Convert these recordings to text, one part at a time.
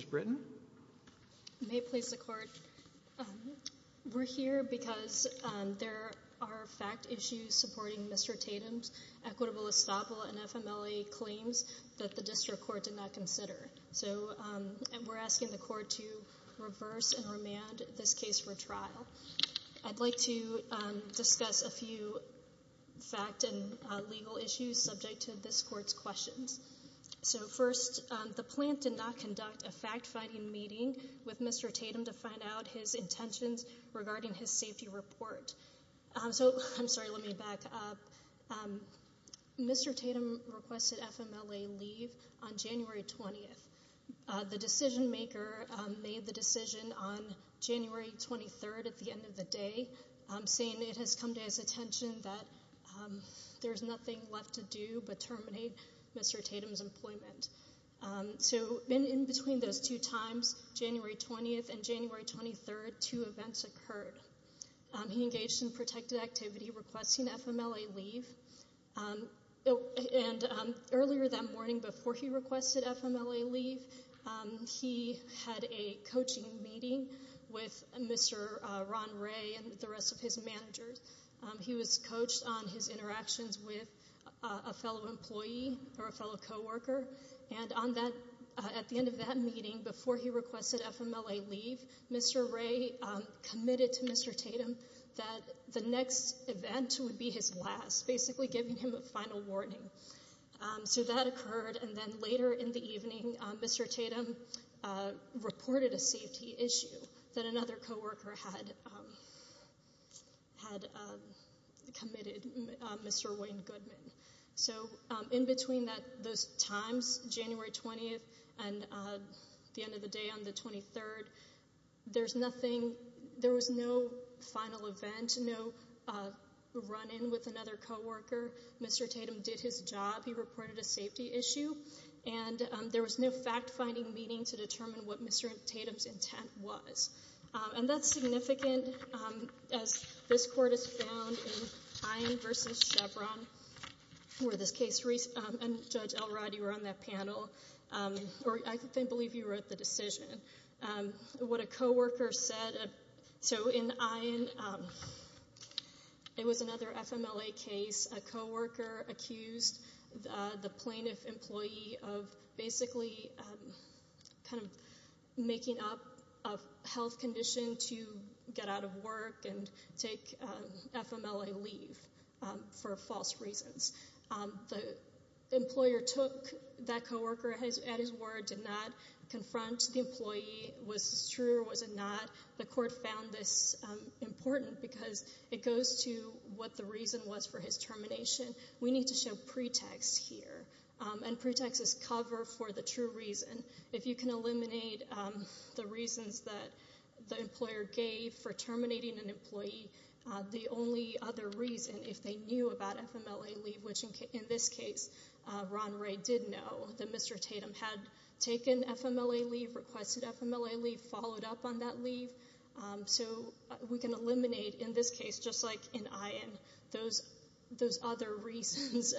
We are here because there are fact issues supporting Mr. Tatum's equitable estoppel and FMLA claims that the district court did not consider. So we are asking the court to reverse and remand this case for trial. I'd like to discuss a few fact and legal issues subject to this court's questions. So first, the plant did not conduct a fact-finding meeting with Mr. Tatum to find out his intentions regarding his safety report. So Mr. Tatum requested FMLA leave on January 20th. The decision-maker made the decision on January 23rd at the end of the day, saying it has come to his attention that there's nothing left to do but terminate Mr. Tatum's employment. So in between those two times, January 20th and January 23rd, two events occurred. He engaged in protected activity requesting FMLA leave. And earlier that morning, before he requested FMLA leave, he had a coaching meeting with Mr. Ron Ray and the rest of his managers. He was coached on his interactions with a fellow employee or a fellow co-worker. And on that, at the end of that meeting, before he requested FMLA leave, Mr. Ray committed to Mr. Tatum that the next event would be his last, basically giving him a final warning. So that occurred, and then later in the evening, Mr. Tatum reported a safety issue that another co-worker had committed, Mr. Wayne Goodman. So in between those times, January 20th and the end of the day on the 23rd, there was no final event, no run-in with another co-worker. Mr. Tatum did his job. He reported a safety issue, and there was no fact-finding meeting to determine what Mr. Tatum's intent was. And that's significant, as this court has found in Ayin v. Chevron, where this case, and Judge Elrodi were on that panel, or I believe you wrote the decision, what a co-worker said. So in Ayin, it was another FMLA case. A co-worker accused the plaintiff employee of basically kind of making up a health condition to get out of work and take FMLA leave for false reasons. The employer took that co-worker at his word, did not confront the employee. Was this true or was it not? The court found this important because it goes to what the reason was for his termination. We need to show pretext here, and pretext is cover for the true reason. If you can eliminate the reasons that the employer gave for terminating an employee, the only other reason, if they knew about FMLA leave, which in this case, Ron Ray did know that Mr. Tatum had taken FMLA leave, requested FMLA leave, followed up on that leave. So we can eliminate, in this case, just like in Ayin, those other reasons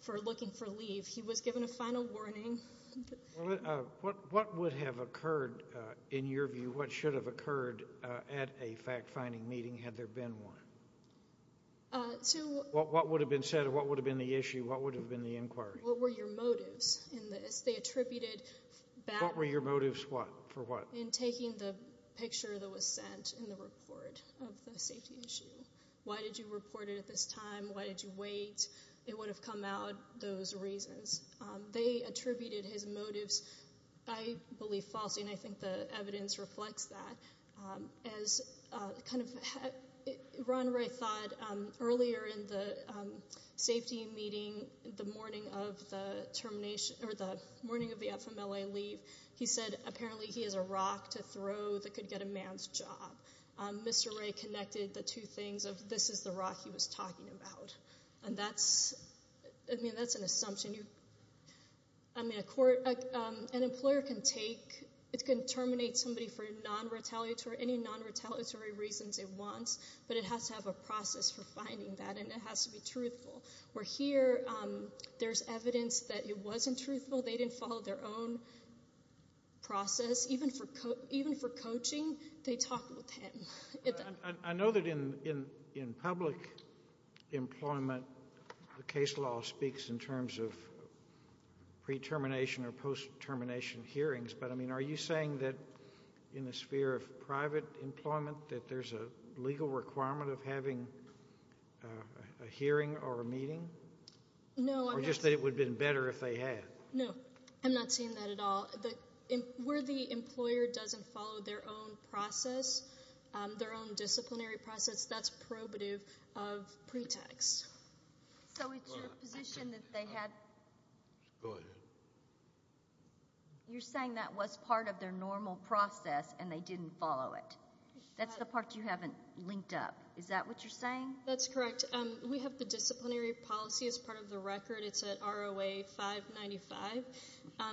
for looking for leave. He was given a final warning. What would have occurred, in your view, what should have occurred at a fact-finding meeting, had there been one? What would have been said, or what would have been the issue, what would have been the inquiry? What were your motives in this? They attributed that... What were your motives for what? In taking the picture that was sent in the report of the safety issue. Why did you report it at this time? Why did you wait? It would have come out, those reasons. They attributed his motives, I believe, falsely, and I think the evidence reflects that. As kind of... Ron Ray thought earlier in the safety meeting, the morning of the termination, or the morning of the FMLA leave. He said, apparently, he has a rock to throw that could get a man's job. Mr. Ray connected the two things of, this is the rock he was talking about. And that's, I mean, that's an assumption. I mean, a court, an employer can take, it can terminate somebody for non-retaliatory, any non-retaliatory reasons it wants, but it has to have a process for finding that, and it has to be truthful. Where here, there's evidence that it wasn't truthful. They didn't follow their own process, even for coaching, they talked with him. I know that in public employment, the case law speaks in terms of pre-termination or post-termination hearings. But I mean, are you saying that in the sphere of private employment, that there's a legal requirement of having a hearing or a meeting? No, I'm not. Or just that it would have been better if they had? No, I'm not saying that at all. Where the employer doesn't follow their own process, their own disciplinary process, that's probative of pretext. So it's your position that they had... Go ahead. You're saying that was part of their normal process and they didn't follow it. That's the part you haven't linked up. Is that what you're saying? That's correct. We have the disciplinary policy as part of the record. It's at ROA 595.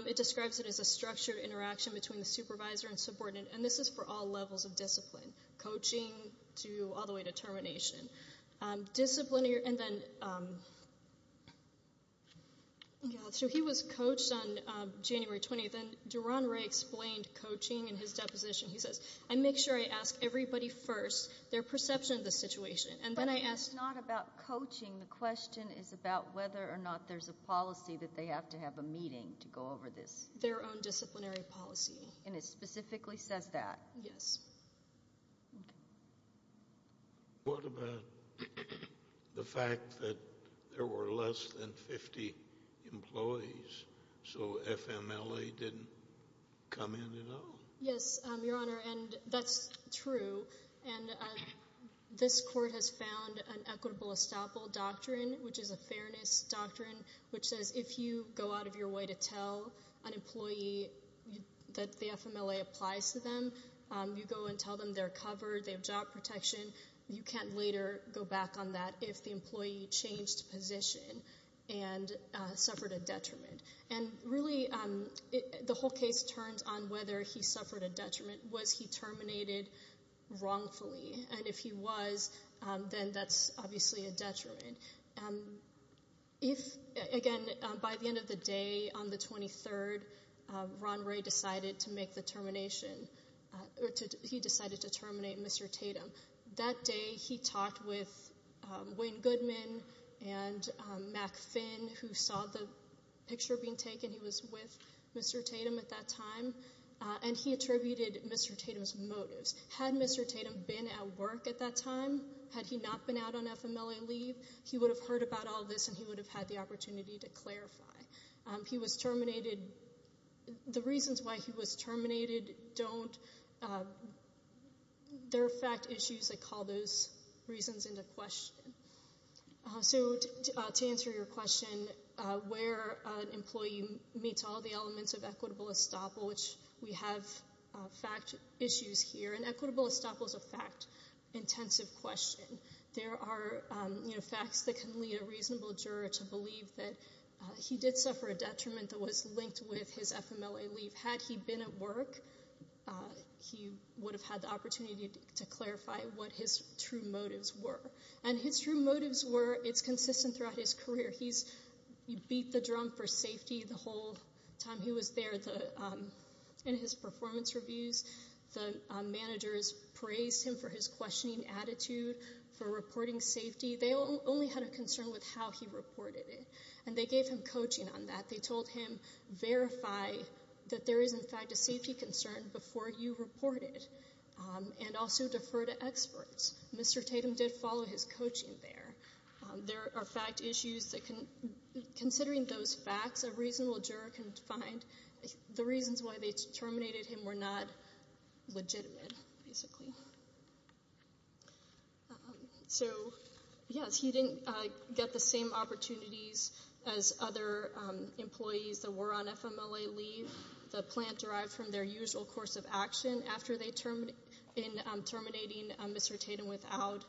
It describes it as a structured interaction between the supervisor and subordinate. And this is for all levels of discipline, coaching to all the way to termination. Discipline, and then... So he was coached on January 20th. And Duron Ray explained coaching in his deposition. He says, I make sure I ask everybody first their perception of the situation. And then I ask... But it's not about coaching. The question is about whether or not there's a policy that they have to have a meeting to go over this. Their own disciplinary policy. And it specifically says that. Yes. What about the fact that there were less than 50 employees? So FMLA didn't come in at all? Yes, Your Honor. And that's true. And this court has found an equitable estoppel doctrine, which is a fairness doctrine, which says if you go out of your way to tell an employee that the FMLA applies to them, you go and tell them they're covered, they have job protection, you can't later go back on that if the employee changed position and suffered a detriment. And really, the whole case turns on whether he suffered a detriment. Was he terminated wrongfully? And if he was, then that's obviously a detriment. Again, by the end of the day on the 23rd, Ron Ray decided to make the termination. He decided to terminate Mr. Tatum. That day, he talked with Wayne Goodman and Mack Finn, who saw the picture being taken. He was with Mr. Tatum at that time. And he attributed Mr. Tatum's motives. Had Mr. Tatum been at work at that time? Had he not been out on FMLA leave? He would have heard about all this, and he would have had the opportunity to clarify. He was terminated. The reasons why he was terminated don't—there are fact issues that call those reasons into question. So to answer your question, where an employee meets all the elements of equitable estoppel, we have fact issues here. And equitable estoppel is a fact-intensive question. There are facts that can lead a reasonable juror to believe that he did suffer a detriment that was linked with his FMLA leave. Had he been at work, he would have had the opportunity to clarify what his true motives were. And his true motives were—it's consistent throughout his career. He beat the drum for safety the whole time he was there. In his performance reviews, the managers praised him for his questioning attitude, for reporting safety. They only had a concern with how he reported it. And they gave him coaching on that. They told him, verify that there is, in fact, a safety concern before you report it. And also defer to experts. Mr. Tatum did follow his coaching there. There are fact issues that can—considering those facts, a reasonable juror can find the reasons why they terminated him were not legitimate, basically. So, yes, he didn't get the same opportunities as other employees that were on FMLA leave. The plant derived from their usual course of action after they term—in terminating Mr. Tatum without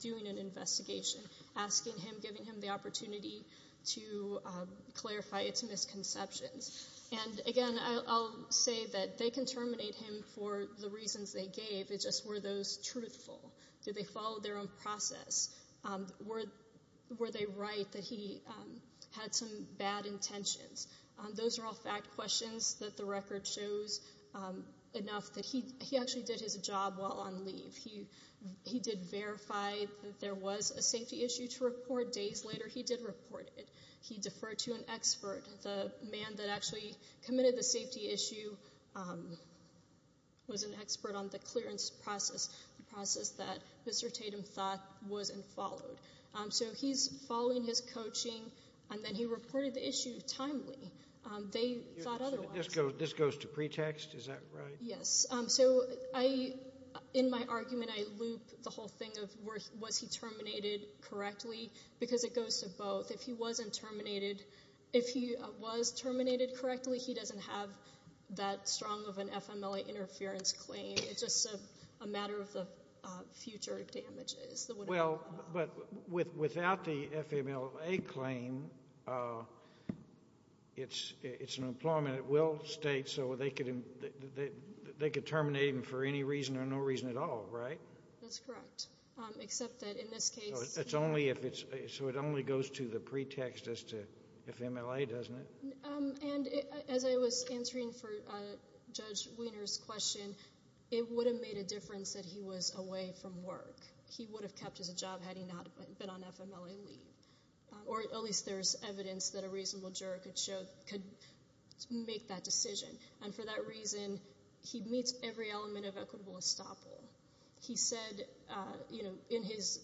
doing an investigation, asking him, giving him the opportunity to clarify its misconceptions. And, again, I'll say that they can terminate him for the reasons they gave. It's just, were those truthful? Did they follow their own process? Were they right that he had some bad intentions? Those are all fact questions that the record shows enough that he actually did his job while on leave. He did verify that there was a safety issue to report. Days later, he did report it. He deferred to an expert. The man that actually committed the safety issue was an expert on the clearance process, the process that Mr. Tatum thought was and followed. So he's following his coaching, and then he reported the issue timely. They thought otherwise. This goes to pretext, is that right? Yes. So I, in my argument, I loop the whole thing of was he terminated correctly, because it goes to both. If he wasn't terminated, if he was terminated correctly, he doesn't have that strong of an FMLA interference claim. It's just a matter of the future damages. But without the FMLA claim, it's an employment at-will state, so they could terminate him for any reason or no reason at all, right? That's correct, except that in this case— It's only if it's—so it only goes to the pretext as to FMLA, doesn't it? And as I was answering for Judge Weiner's question, it would have made a difference that he was away from work. He would have kept his job had he not been on FMLA leave, or at least there's evidence that a reasonable juror could show—could make that decision. And for that reason, he meets every element of equitable estoppel. He said, you know, in his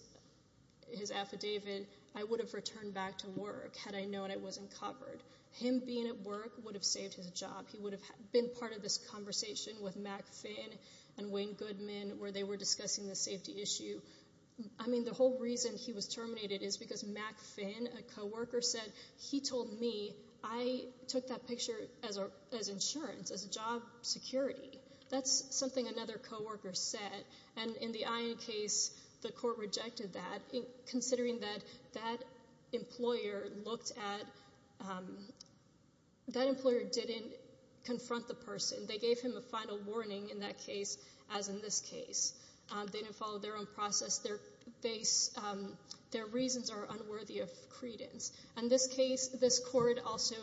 affidavit, I would have returned back to work had I known I wasn't covered. Him being at work would have saved his job. He would have been part of this conversation with Mack Finn and Wayne Goodman where they were discussing the safety issue. I mean, the whole reason he was terminated is because Mack Finn, a co-worker, said, he told me, I took that picture as insurance, as job security. That's something another co-worker said. And in the Ion case, the court rejected that, considering that that employer looked at—that employer didn't confront the person. They gave him a final warning in that case, as in this case. They didn't follow their own process. Their base—their reasons are unworthy of credence. In this case, this court also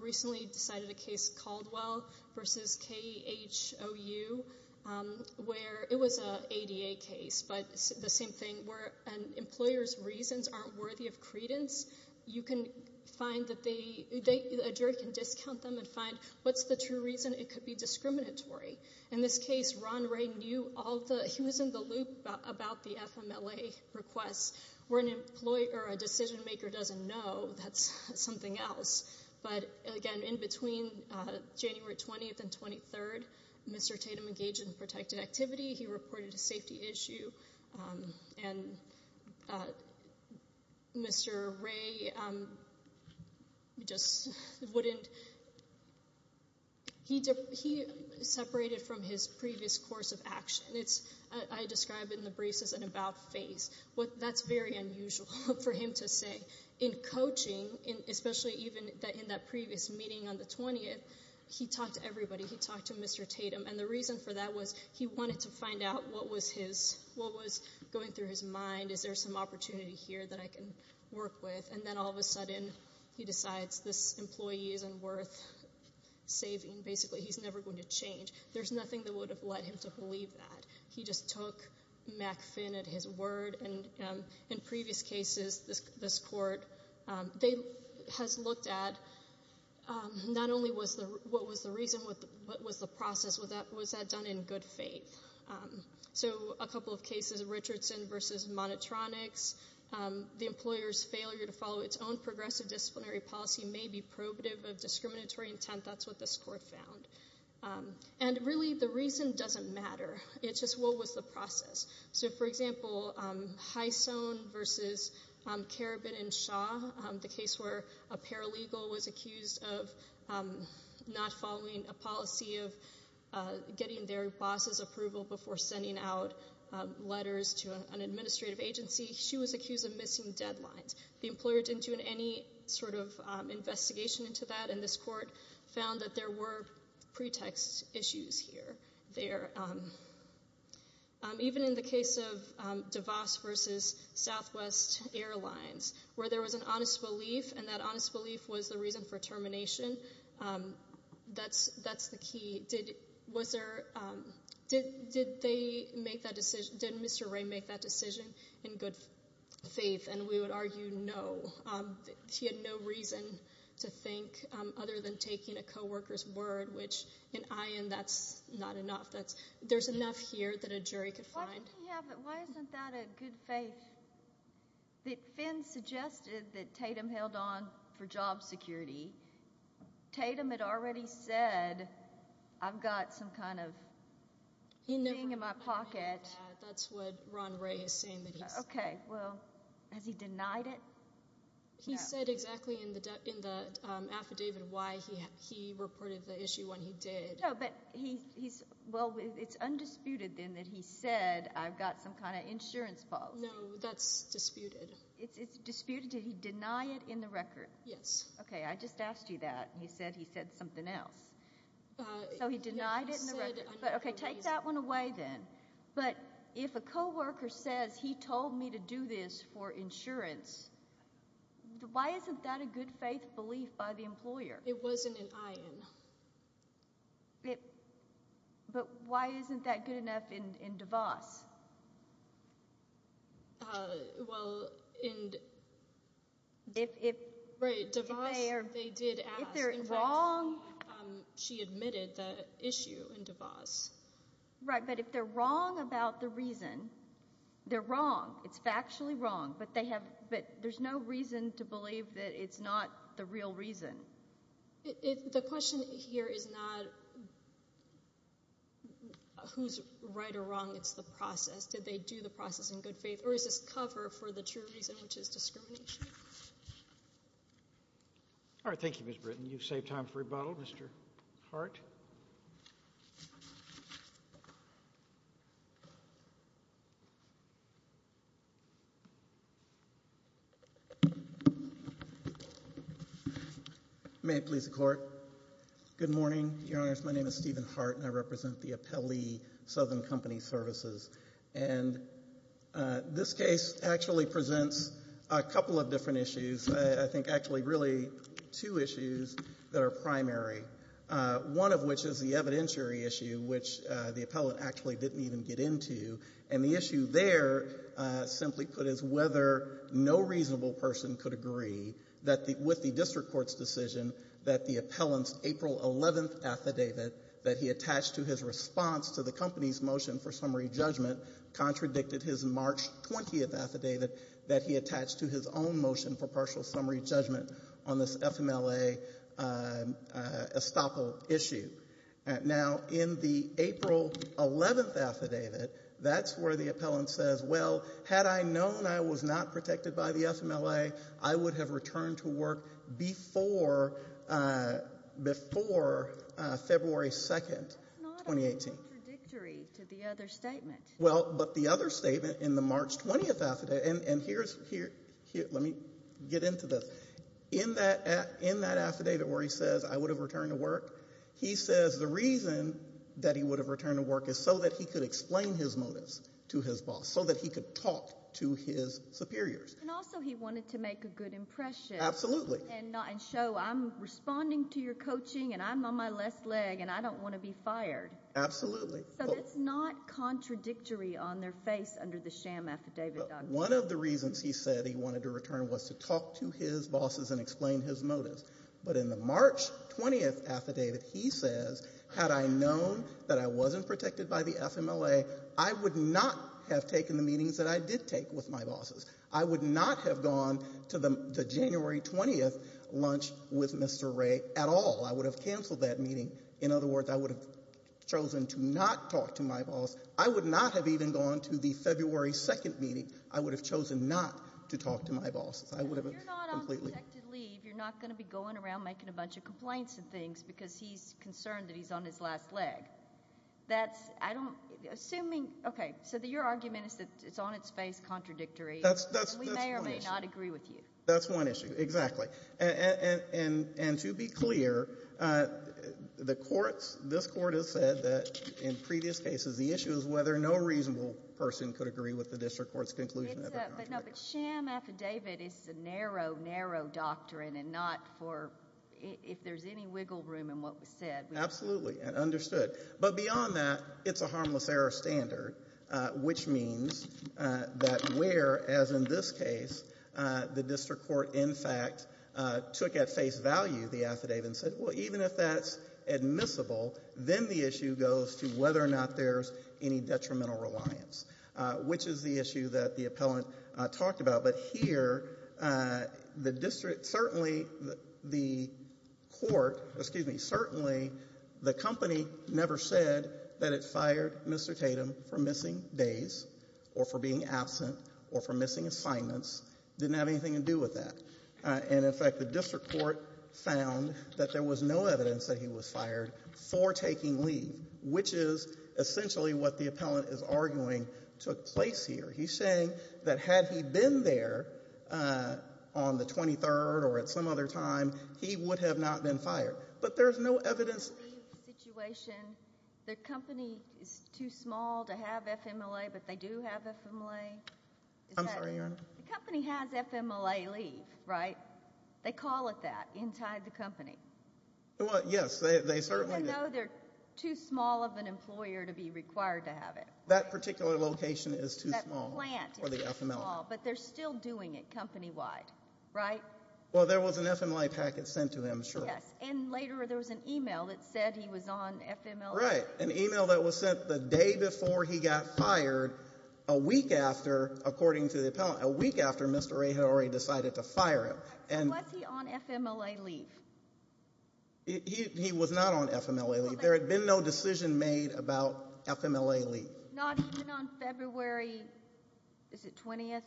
recently decided a case, Caldwell v. KHOU, where it was an ADA case, but the same thing, where an employer's reasons aren't worthy of credence. You can find that they—a juror can discount them and find what's the true reason. It could be discriminatory. In this case, Ron Ray knew all the—he was in the loop about the FMLA requests. Where an employer or a decision-maker doesn't know, that's something else. But again, in between January 20th and 23rd, Mr. Tatum engaged in protected activity. He reported a safety issue. And Mr. Ray just wouldn't—he separated from his previous course of action. It's—I describe it in the briefs as an about phase. What—that's very unusual for him to say. In coaching, especially even in that previous meeting on the 20th, he talked to everybody. He talked to Mr. Tatum. And the reason for that was he wanted to find out what was his—what was going through his mind. Is there some opportunity here that I can work with? And then, all of a sudden, he decides this employee isn't worth saving. Basically, he's never going to change. There's nothing that would have led him to believe that. He just took Mack Finn at his word. And in previous cases, this court, they—has looked at not only was the—what was the process, was that done in good faith? So, a couple of cases, Richardson v. Monotronics, the employer's failure to follow its own progressive disciplinary policy may be probative of discriminatory intent. That's what this court found. And really, the reason doesn't matter. It's just what was the process? So, for example, Hisone v. Karabin and Shaw, the case where a paralegal was accused of not following a policy of getting their boss's approval before sending out letters to an administrative agency, she was accused of missing deadlines. The employer didn't do any sort of investigation into that, and this court found that there were pretext issues here. There—even in the case of DeVos v. Southwest Airlines, where there was an honest belief, and that honest belief was the reason for termination, that's the key. Did—was there—did they make that decision—did Mr. Wray make that decision in good faith? And we would argue no. He had no reason to think other than taking a co-worker's word, which, in my end, that's not enough. There's enough here that a jury could find. Yeah, but why isn't that a good faith? That Finn suggested that Tatum held on for job security. Tatum had already said, I've got some kind of thing in my pocket. That's what Ron Wray is saying. Okay, well, has he denied it? He said exactly in the affidavit why he reported the issue when he did. But he's—well, it's undisputed, then, that he said, I've got some kind of insurance policy. No, that's disputed. It's disputed. Did he deny it in the record? Yes. Okay, I just asked you that. He said he said something else. So he denied it in the record. Okay, take that one away, then. But if a co-worker says, he told me to do this for insurance, why isn't that a good faith belief by the employer? It wasn't an iron. It—but why isn't that good enough in DeVos? Well, in— If— Right, DeVos, they did ask. If they're wrong— In fact, she admitted the issue in DeVos. Right, but if they're wrong about the reason, they're wrong. It's factually wrong. But they have—but there's no reason to believe that it's not the real reason. It—the question here is not who's right or wrong. It's the process. Did they do the process in good faith? Or is this cover for the true reason, which is discrimination? All right, thank you, Ms. Britton. You've saved time for rebuttal. Mr. Hart? May it please the Court. Good morning, Your Honors. My name is Stephen Hart, and I represent the appellee, Southern Company Services. And this case actually presents a couple of different issues. I think, actually, really two issues that are primary, one of which is the evidentiary issue, which the appellate actually didn't even get into. And the issue there, simply put, is whether no reasonable person could agree that the—with that, the appellant's April 11th affidavit that he attached to his response to the company's motion for summary judgment contradicted his March 20th affidavit that he attached to his own motion for partial summary judgment on this FMLA estoppel issue. Now, in the April 11th affidavit, that's where the appellant says, well, had I known I was not protected by the FMLA, I would have returned to work before February 2nd, 2018. That's not contradictory to the other statement. Well, but the other statement in the March 20th affidavit—and here's—let me get into this. In that affidavit where he says, I would have returned to work, he says the reason that he would have returned to work is so that he could explain his motives to his boss, so that he could talk to his superiors. And also he wanted to make a good impression. Absolutely. And show, I'm responding to your coaching, and I'm on my left leg, and I don't want to be fired. Absolutely. So that's not contradictory on their face under the sham affidavit. One of the reasons he said he wanted to return was to talk to his bosses and explain his motives. But in the March 20th affidavit, he says, had I known that I wasn't protected by the meetings that I did take with my bosses, I would not have gone to the January 20th lunch with Mr. Wray at all. I would have canceled that meeting. In other words, I would have chosen to not talk to my boss. I would not have even gone to the February 2nd meeting. I would have chosen not to talk to my bosses. I would have completely— If you're not on protected leave, you're not going to be going around making a bunch of complaints and things because he's concerned that he's on his last leg. That's—I don't—assuming—okay, so your argument is that it's on its face contradictory. That's one issue. We may or may not agree with you. That's one issue, exactly. And to be clear, the courts—this court has said that in previous cases, the issue is whether no reasonable person could agree with the district court's conclusion. It's a—but no, but sham affidavit is a narrow, narrow doctrine, and not for—if there's any wiggle room in what was said. Absolutely, and understood. But beyond that, it's a harmless error standard, which means that where, as in this case, the district court in fact took at face value the affidavit and said, well, even if that's admissible, then the issue goes to whether or not there's any detrimental reliance, which is the issue that the appellant talked about. But here, the district—certainly, the court—excuse me—certainly, the company never said that it fired Mr. Tatum for missing days or for being absent or for missing assignments. It didn't have anything to do with that. And in fact, the district court found that there was no evidence that he was fired for taking leave, which is essentially what the appellant is arguing took place here. He's saying that had he been there on the 23rd or at some other time, he would have not been fired. But there's no evidence— The leave situation, the company is too small to have FMLA, but they do have FMLA? I'm sorry, Your Honor? The company has FMLA leave, right? They call it that inside the company. Yes, they certainly do. Even though they're too small of an employer to be required to have it. That particular location is too small for the FMLA. But they're still doing it company-wide, right? Well, there was an FMLA packet sent to him, sure. Yes. And later, there was an email that said he was on FMLA leave. Right. An email that was sent the day before he got fired, a week after, according to the appellant—a week after Mr. Ray had already decided to fire him. Was he on FMLA leave? He was not on FMLA leave. There had been no decision made about FMLA leave. Not even on February—is it 20th?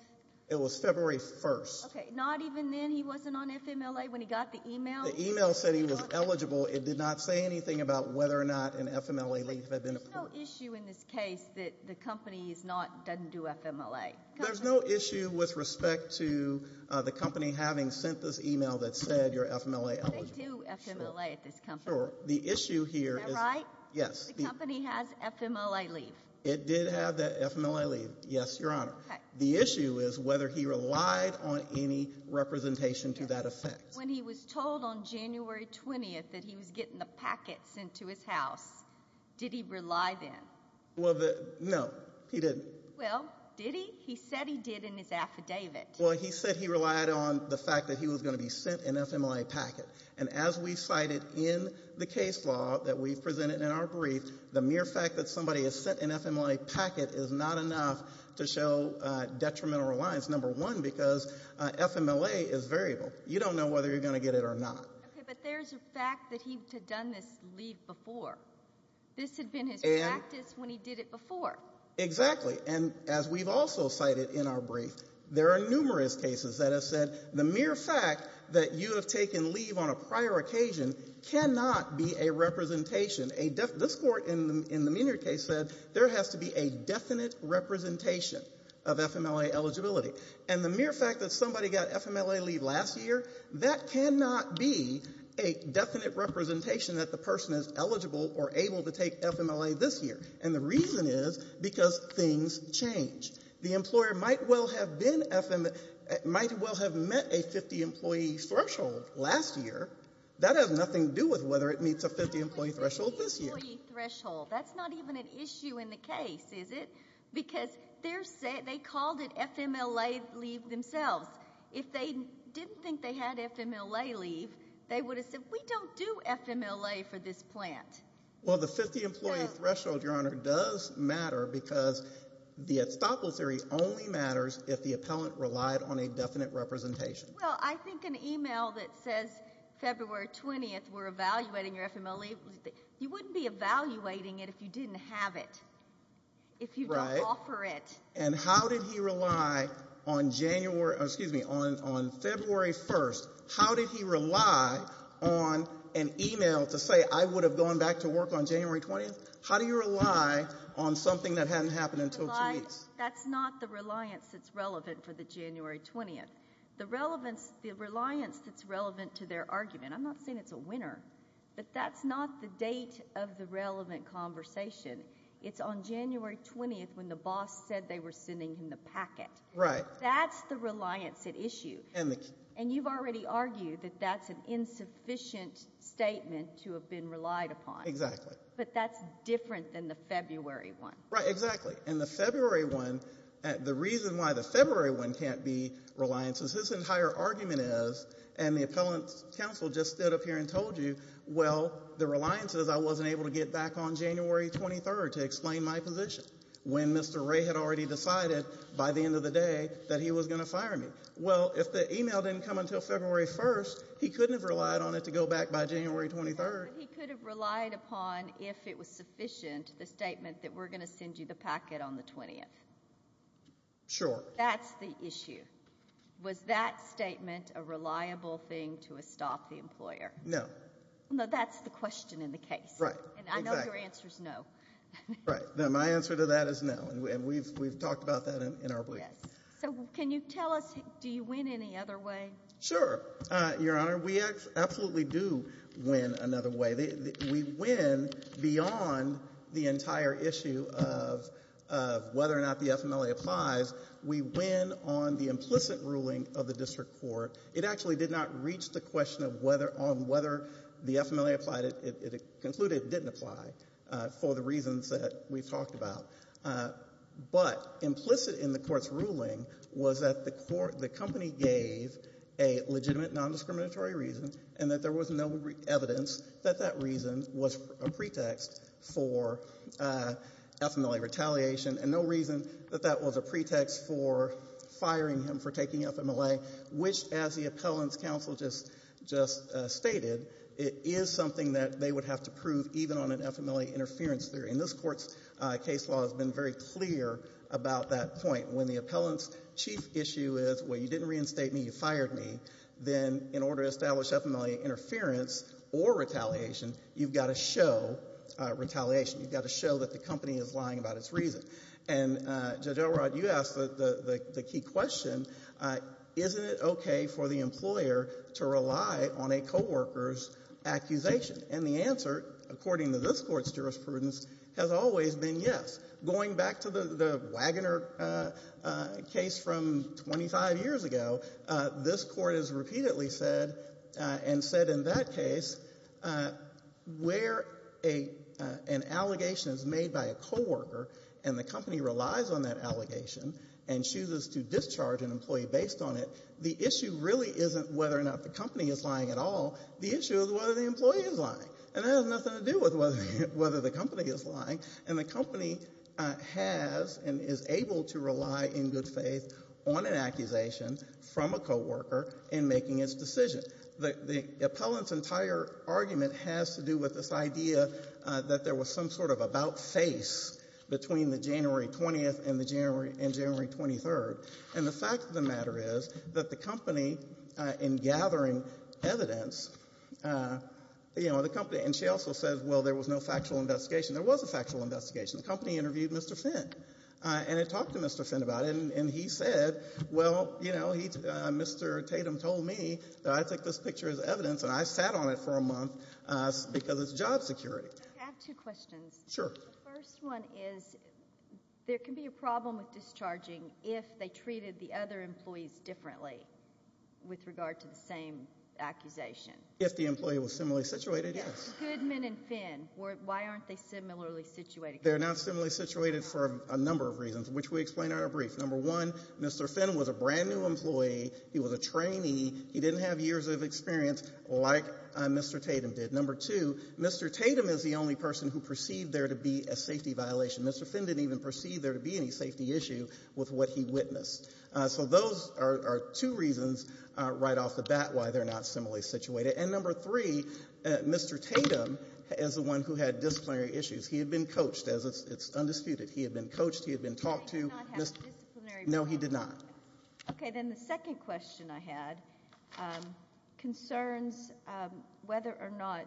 It was February 1st. Okay. Not even then he wasn't on FMLA when he got the email? The email said he was eligible. It did not say anything about whether or not an FMLA leave had been appointed. There's no issue in this case that the company is not—doesn't do FMLA? There's no issue with respect to the company having sent this email that said you're FMLA eligible. They do FMLA at this company. Sure. The issue here is— Is that right? Yes. The company has FMLA leave? It did have that FMLA leave. Yes, Your Honor. The issue is whether he relied on any representation to that effect. When he was told on January 20th that he was getting the packet sent to his house, did he rely then? No, he didn't. Well, did he? He said he did in his affidavit. Well, he said he relied on the fact that he was going to be sent an FMLA packet, and as we cited in the case law that we've presented in our brief, the mere fact that somebody has sent an FMLA packet is not enough to show detrimental reliance, number one, because FMLA is variable. You don't know whether you're going to get it or not. Okay, but there's a fact that he had done this leave before. This had been his practice when he did it before. Exactly, and as we've also cited in our brief, there are numerous cases that have said the mere fact that you have taken leave on a prior occasion cannot be a representation. This Court, in the Menier case, said there has to be a definite representation of FMLA eligibility, and the mere fact that somebody got FMLA leave last year, that cannot be a definite representation that the person is eligible or able to take FMLA this year, and the reason is because things change. The employer might well have met a 50-employee threshold last year. That has nothing to do with whether it meets a 50-employee threshold this year. 50-employee threshold. That's not even an issue in the case, is it? Because they called it FMLA leave themselves. If they didn't think they had FMLA leave, they would have said, we don't do FMLA for this plant. Well, the 50-employee threshold, Your Honor, does matter because the estoppel theory only matters if the appellant relied on a definite representation. Well, I think an email that says February 20th, we're evaluating your FMLA leave, you wouldn't be evaluating it if you didn't have it, if you don't offer it. And how did he rely on January, excuse me, on February 1st, how did he rely on an email to say, I would have gone back to work on January 20th? How do you rely on something that hadn't happened until two weeks? That's not the reliance that's relevant for the January 20th. The reliance that's relevant to their argument, I'm not saying it's a winner, but that's not the date of the relevant conversation. It's on January 20th when the boss said they were sending him the packet. Right. That's the reliance at issue. And you've already argued that that's an insufficient statement to have been relied upon. Exactly. But that's different than the February one. Right, exactly. And the February one, the reason why the February one can't be reliance is his entire argument is, and the appellant's counsel just stood up here and told you, well, the reliance is I wasn't able to get back on January 23rd to explain my position when Mr. Ray had already decided by the end of the day that he was going to fire me. Well, if the email didn't come until February 1st, he couldn't have relied on it to go back by January 23rd. He could have relied upon if it was sufficient, the statement that we're going to send you the packet on the 20th. Sure. That's the issue. Was that statement a reliable thing to estop the employer? No. No, that's the question in the case. Right. And I know your answer's no. Right. My answer to that is no, and we've talked about that in our brief. So can you tell us, do you win any other way? Sure, Your Honor. We absolutely do win another way. We win beyond the entire issue of whether or not the FMLA applies. We win on the implicit ruling of the district court. It actually did not reach the question on whether the FMLA concluded it didn't apply for the reasons that we've talked about. But implicit in the court's ruling was that the company gave a legitimate nondiscriminatory reason and that there was no evidence that that reason was a pretext for FMLA retaliation and no reason that that was a pretext for firing him for taking FMLA, which, as the appellant's counsel just stated, it is something that they would have to prove even on an FMLA interference theory. And this court's case law has been very clear about that point. When the appellant's chief issue is, well, you didn't reinstate me, you fired me, then in order to establish FMLA interference or retaliation, you've got to show retaliation. You've got to show that the company is lying about its reason. And Judge Elrod, you asked the key question, isn't it okay for the employer to rely on a co-worker's accusation? And the answer, according to this court's jurisprudence, has always been yes. Going back to the Wagoner case from 25 years ago, this court has repeatedly said and said in that case, where an allegation is made by a co-worker and the company relies on that allegation and chooses to discharge an employee based on it, the issue really isn't whether or not the company is lying at all. The issue is whether the employee is lying. And that has nothing to do with whether the company is lying. And the company has and is able to rely, in good faith, on an accusation from a co-worker in making its decision. The appellant's entire argument has to do with this idea that there was some sort of about-face between the January 20th and January 23rd. And the fact of the matter is that the company, in gathering evidence, and she also says, well, there was no factual investigation. There was a factual investigation. The company interviewed Mr. Finn. And it talked to Mr. Finn about it. And he said, well, you know, Mr. Tatum told me that I take this picture as evidence and I sat on it for a month because it's job security. I have two questions. Sure. First one is, there can be a problem with discharging if they treated the other employees differently with regard to the same accusation. If the employee was similarly situated, yes. Goodman and Finn, why aren't they similarly situated? They're not similarly situated for a number of reasons, which we explain in our brief. Number one, Mr. Finn was a brand new employee. He was a trainee. He didn't have years of experience like Mr. Tatum did. Number two, Mr. Tatum is the only person who perceived there to be a safety violation. Mr. Finn didn't even perceive there to be any safety issue with what he witnessed. So those are two reasons right off the bat why they're not similarly situated. And number three, Mr. Tatum is the one who had disciplinary issues. He had been coached as it's undisputed. He had been coached. He had been talked to. No, he did not. Okay. Then the second question I had concerns whether or not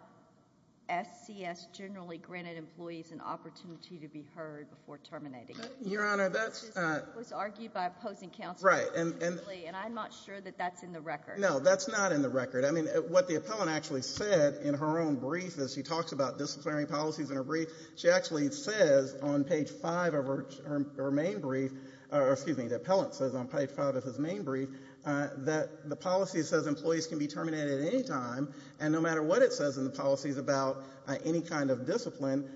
SCS generally granted employees an opportunity to be heard before terminating. Your Honor, that's... It was argued by opposing counsel. Right. And I'm not sure that that's in the record. No, that's not in the record. What the appellant actually said in her own brief, as she talks about disciplinary policies in her brief, she actually says on page five of her main brief, or excuse me, the appellant says on page five of his main brief, that the policy says employees can be terminated at any time. And no matter what it says in the policies about any kind of discipline,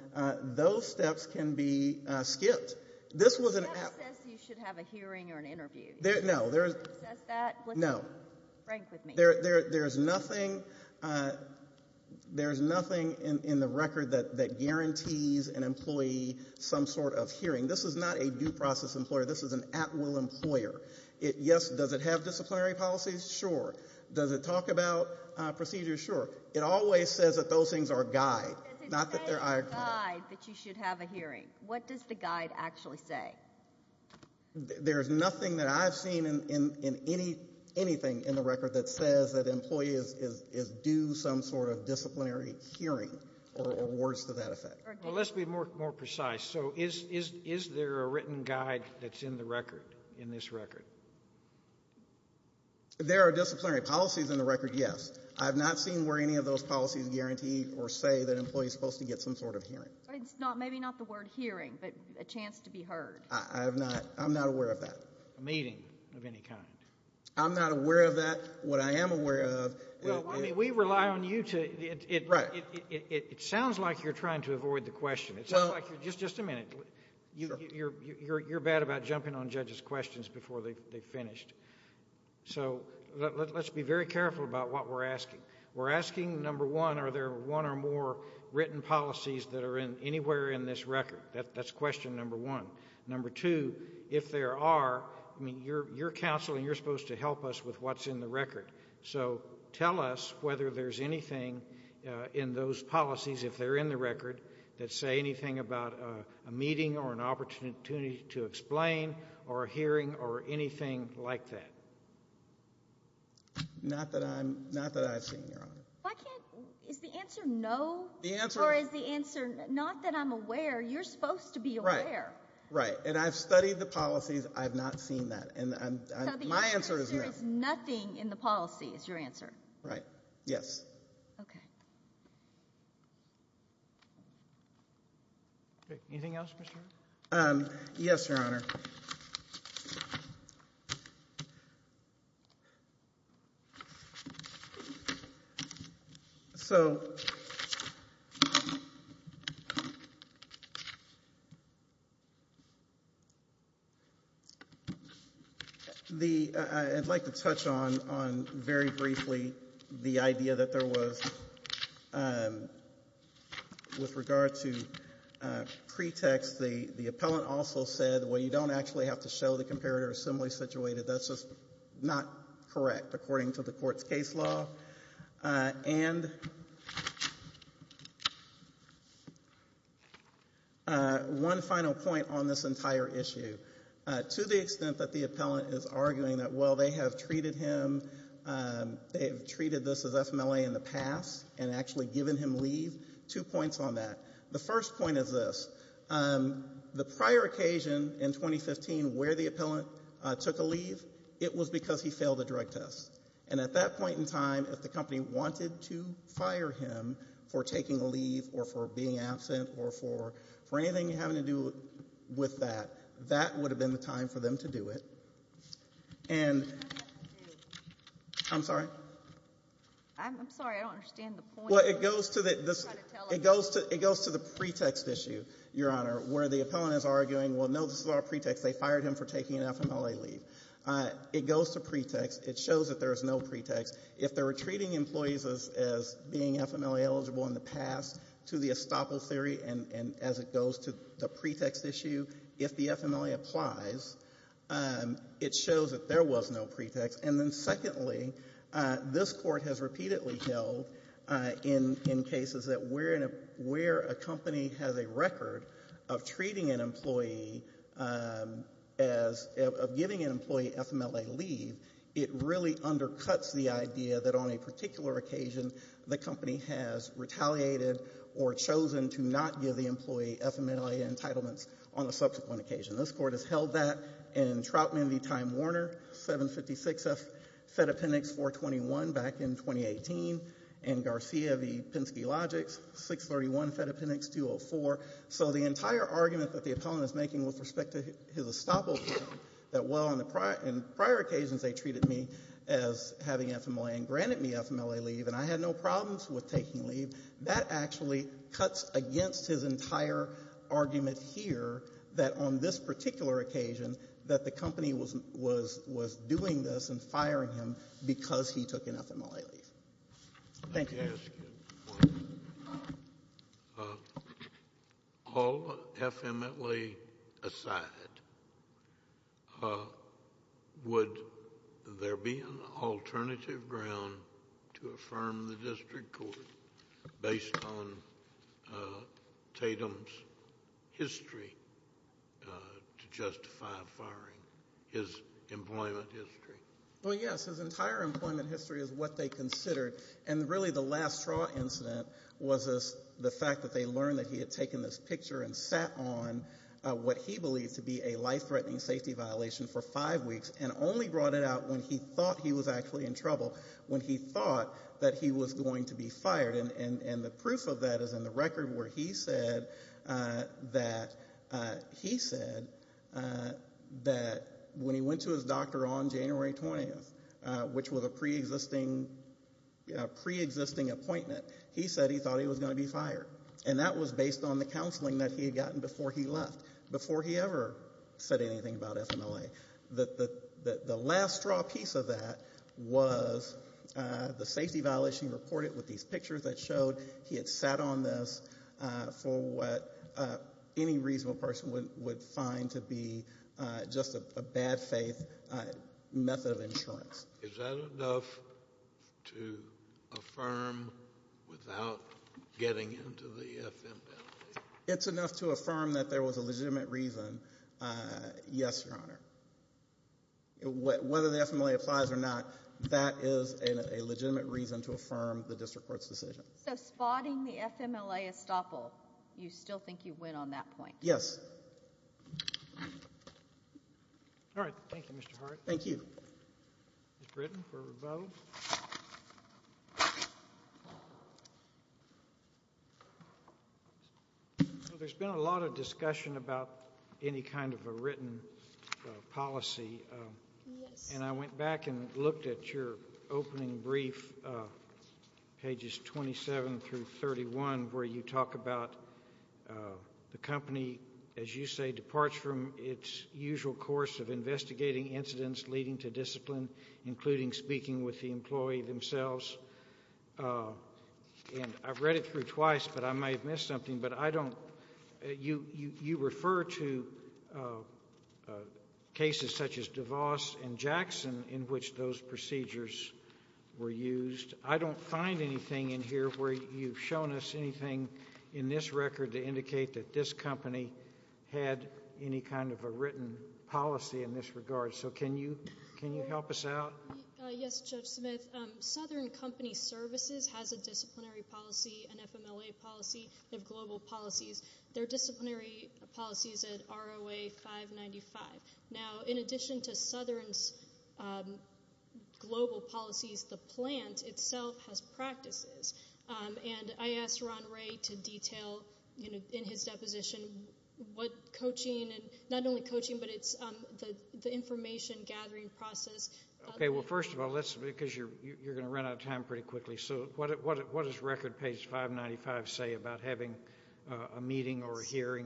those steps can be skipped. This was an... The appellant says you should have a hearing or an interview. No, there's... He says that? No. Frank with me. There's nothing... There's nothing in the record that guarantees an employee some sort of hearing. This is not a due process employer. This is an at-will employer. Yes, does it have disciplinary policies? Sure. Does it talk about procedures? Sure. It always says that those things are a guide. Not that they're... It says it's a guide that you should have a hearing. What does the guide actually say? There's nothing that I've seen in any... Anything in the record that says that an employee is due some sort of disciplinary hearing or awards to that effect. Let's be more precise. So is there a written guide that's in the record, in this record? There are disciplinary policies in the record, yes. I've not seen where any of those policies guarantee or say that an employee is supposed to get some sort of hearing. It's not... Maybe not the word hearing, but a chance to be heard. I'm not aware of that. A meeting of any kind. I'm not aware of that. What I am aware of... We rely on you to... It sounds like you're trying to avoid the question. It sounds like you're... Just a minute. You're bad about jumping on judges' questions before they've finished. So let's be very careful about what we're asking. We're asking, number one, are there one or more written policies that are anywhere in this record? That's question number one. Number two, if there are, I mean, you're counsel and you're supposed to help us with what's in the record. So tell us whether there's anything in those policies, if they're in the record, that say anything about a meeting or an opportunity to explain or a hearing or anything like that. Not that I'm... Not that I've seen, Your Honor. I can't... Is the answer no? The answer... Right. Right. And I've studied the policies. I've not seen that. And my answer is no. So the answer is there is nothing in the policy, is your answer? Right. Yes. Okay. Okay. Anything else, Mr. Arnn? Yes, Your Honor. So, the, I'd like to touch on, on very briefly the idea that there was, with regard to pretext, the, the appellant also said, well, you don't have to do that. You don't have to do that. You don't actually have to show the comparator assembly situated. That's just not correct, according to the court's case law. And one final point on this entire issue. To the extent that the appellant is arguing that, well, they have treated him, they have treated this as FMLA in the past and actually given him leave, two points on that. The first point is this. The prior occasion in 2015 where the appellant took a leave, it was because he failed a drug test. And at that point in time, if the company wanted to fire him for taking a leave or for being absent or for, for anything having to do with that, that would have been the time for them to do it. And, I'm sorry? I'm, I'm sorry. I don't understand the point. It goes to the, it goes to, it goes to the pretext issue, Your Honor, where the appellant is arguing, well, no, this is all pretext. They fired him for taking an FMLA leave. It goes to pretext. It shows that there is no pretext. If they were treating employees as, as being FMLA eligible in the past to the estoppel theory and, and as it goes to the pretext issue, if the FMLA applies, it shows that there was no pretext. And then secondly, this Court has repeatedly held in, in cases that where, where a company has a record of treating an employee as, of giving an employee FMLA leave, it really undercuts the idea that on a particular occasion, the company has retaliated or chosen to not give the employee FMLA entitlements on a subsequent occasion. This Court has held that in Troutman v. Time Warner, 756 F, Fed Appendix 421 back in 2018, and Garcia v. Penske Logics, 631 Fed Appendix 204. So the entire argument that the appellant is making with respect to his estoppel theory, that while on the prior, in prior occasions they treated me as having FMLA and granted me FMLA leave and I had no problems with taking leave, that actually cuts against his entire argument here that on this particular occasion, that the company was, was, was doing this and firing him because he took an FMLA leave. Thank you. All FMLA aside, would there be an alternative ground to affirm the District Court based on Tatum's history to justify firing, his employment history? Well yes, his entire employment history is what they considered and really the last Trout incident was the fact that they learned that he had taken this picture and sat on what he believed to be a life-threatening safety violation for five weeks and only brought it out when he thought he was actually in trouble, when he thought that he was going to be fired and the proof of that is in the record where he said that, he said that when he went to his doctor on January 20th, which was a pre-existing, pre-existing appointment, he said he thought he was going to be fired and that was based on the counseling that he had gotten before he left, before he ever said anything about FMLA. The, the, the last straw piece of that was the safety violation reported with these pictures that showed he had sat on this for what any reasonable person would, would find to be just a bad faith method of insurance. Is that enough to affirm without getting into the FMLA? It's enough to affirm that there was a legitimate reason, yes, Your Honor. And whether the FMLA applies or not, that is a legitimate reason to affirm the district court's decision. So spotting the FMLA estoppel, you still think you win on that point? Yes. All right. Thank you, Mr. Hart. Thank you. Ms. Britton for her vote. So there's been a lot of discussion about any kind of a written policy and I went back and looked at your opening brief, pages 27 through 31, where you talk about the company, as you say, departs from its usual course of investigating incidents leading to discipline, including speaking with the employee themselves. And I've read it through twice, but I might have missed something. But I don't, you, you, you refer to cases such as DeVos and Jackson in which those procedures were used. I don't find anything in here where you've shown us anything in this record to indicate that this company had any kind of a written policy in this regard. So can you, can you help us out? Yes, Judge Smith. Southern Company Services has a disciplinary policy, an FMLA policy, they have global policies. Their disciplinary policy is at ROA 595. Now, in addition to Southern's global policies, the plant itself has practices. And I asked Ron Ray to detail, you know, in his deposition, what coaching and not only gathering process. Okay. Well, first of all, let's, because you're, you're going to run out of time pretty quickly. So what, what, what does record page 595 say about having a meeting or a hearing?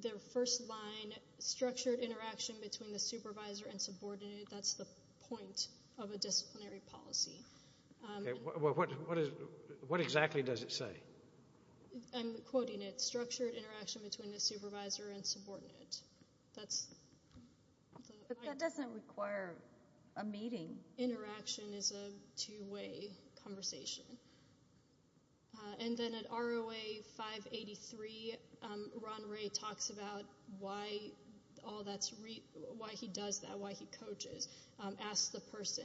Their first line, structured interaction between the supervisor and subordinate. That's the point of a disciplinary policy. What exactly does it say? I'm quoting it. Structured interaction between the supervisor and subordinate. That's the point. But that doesn't require a meeting. Interaction is a two-way conversation. And then at ROA 583, Ron Ray talks about why all that's, why he does that, why he coaches, asks the person.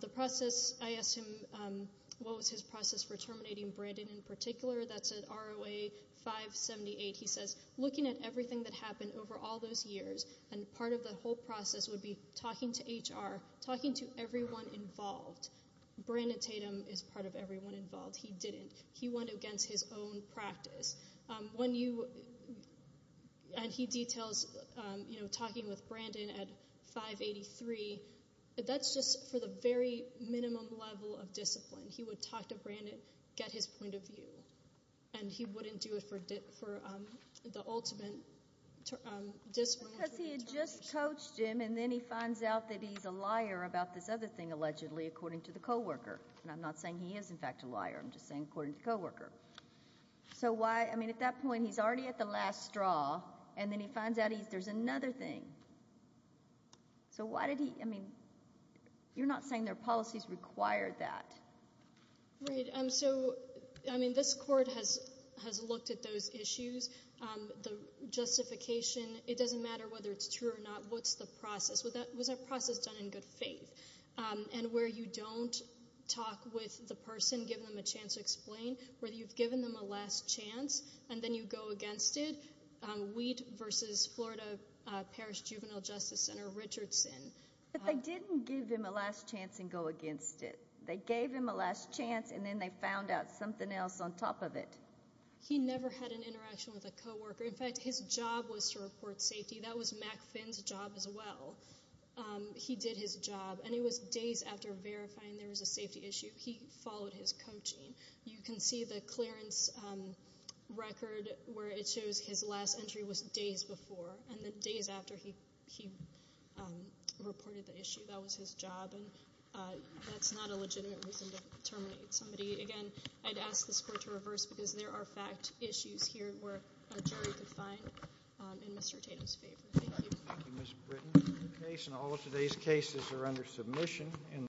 The process, I asked him what was his process for terminating Brandon in particular. That's at ROA 578. He says, looking at everything that happened over all those years, and part of the whole process would be talking to HR, talking to everyone involved. Brandon Tatum is part of everyone involved. He didn't. He went against his own practice. When you, and he details, you know, talking with Brandon at 583, that's just for the very minimum level of discipline. He would talk to Brandon, get his point of view. And he wouldn't do it for the ultimate discipline. Because he had just coached him, and then he finds out that he's a liar about this other thing, allegedly, according to the coworker. And I'm not saying he is, in fact, a liar. I'm just saying according to the coworker. So why, I mean, at that point, he's already at the last straw, and then he finds out there's another thing. So why did he, I mean, you're not saying their policies require that. Reed, so, I mean, this court has looked at those issues. The justification, it doesn't matter whether it's true or not. What's the process? Was that process done in good faith? And where you don't talk with the person, give them a chance to explain, where you've given them a last chance, and then you go against it. Wheat versus Florida Parish Juvenile Justice Center, Richardson. But they didn't give them a last chance and go against it. They gave him a last chance, and then they found out something else on top of it. He never had an interaction with a coworker. In fact, his job was to report safety. That was Mack Finn's job as well. He did his job, and it was days after verifying there was a safety issue. He followed his coaching. You can see the clearance record where it shows his last entry was days before, and the days after he reported the issue. That was his job, and that's not a legitimate reason to terminate somebody. Again, I'd ask this court to reverse because there are fact issues here where a jury could find in Mr. Tatum's favor. Thank you.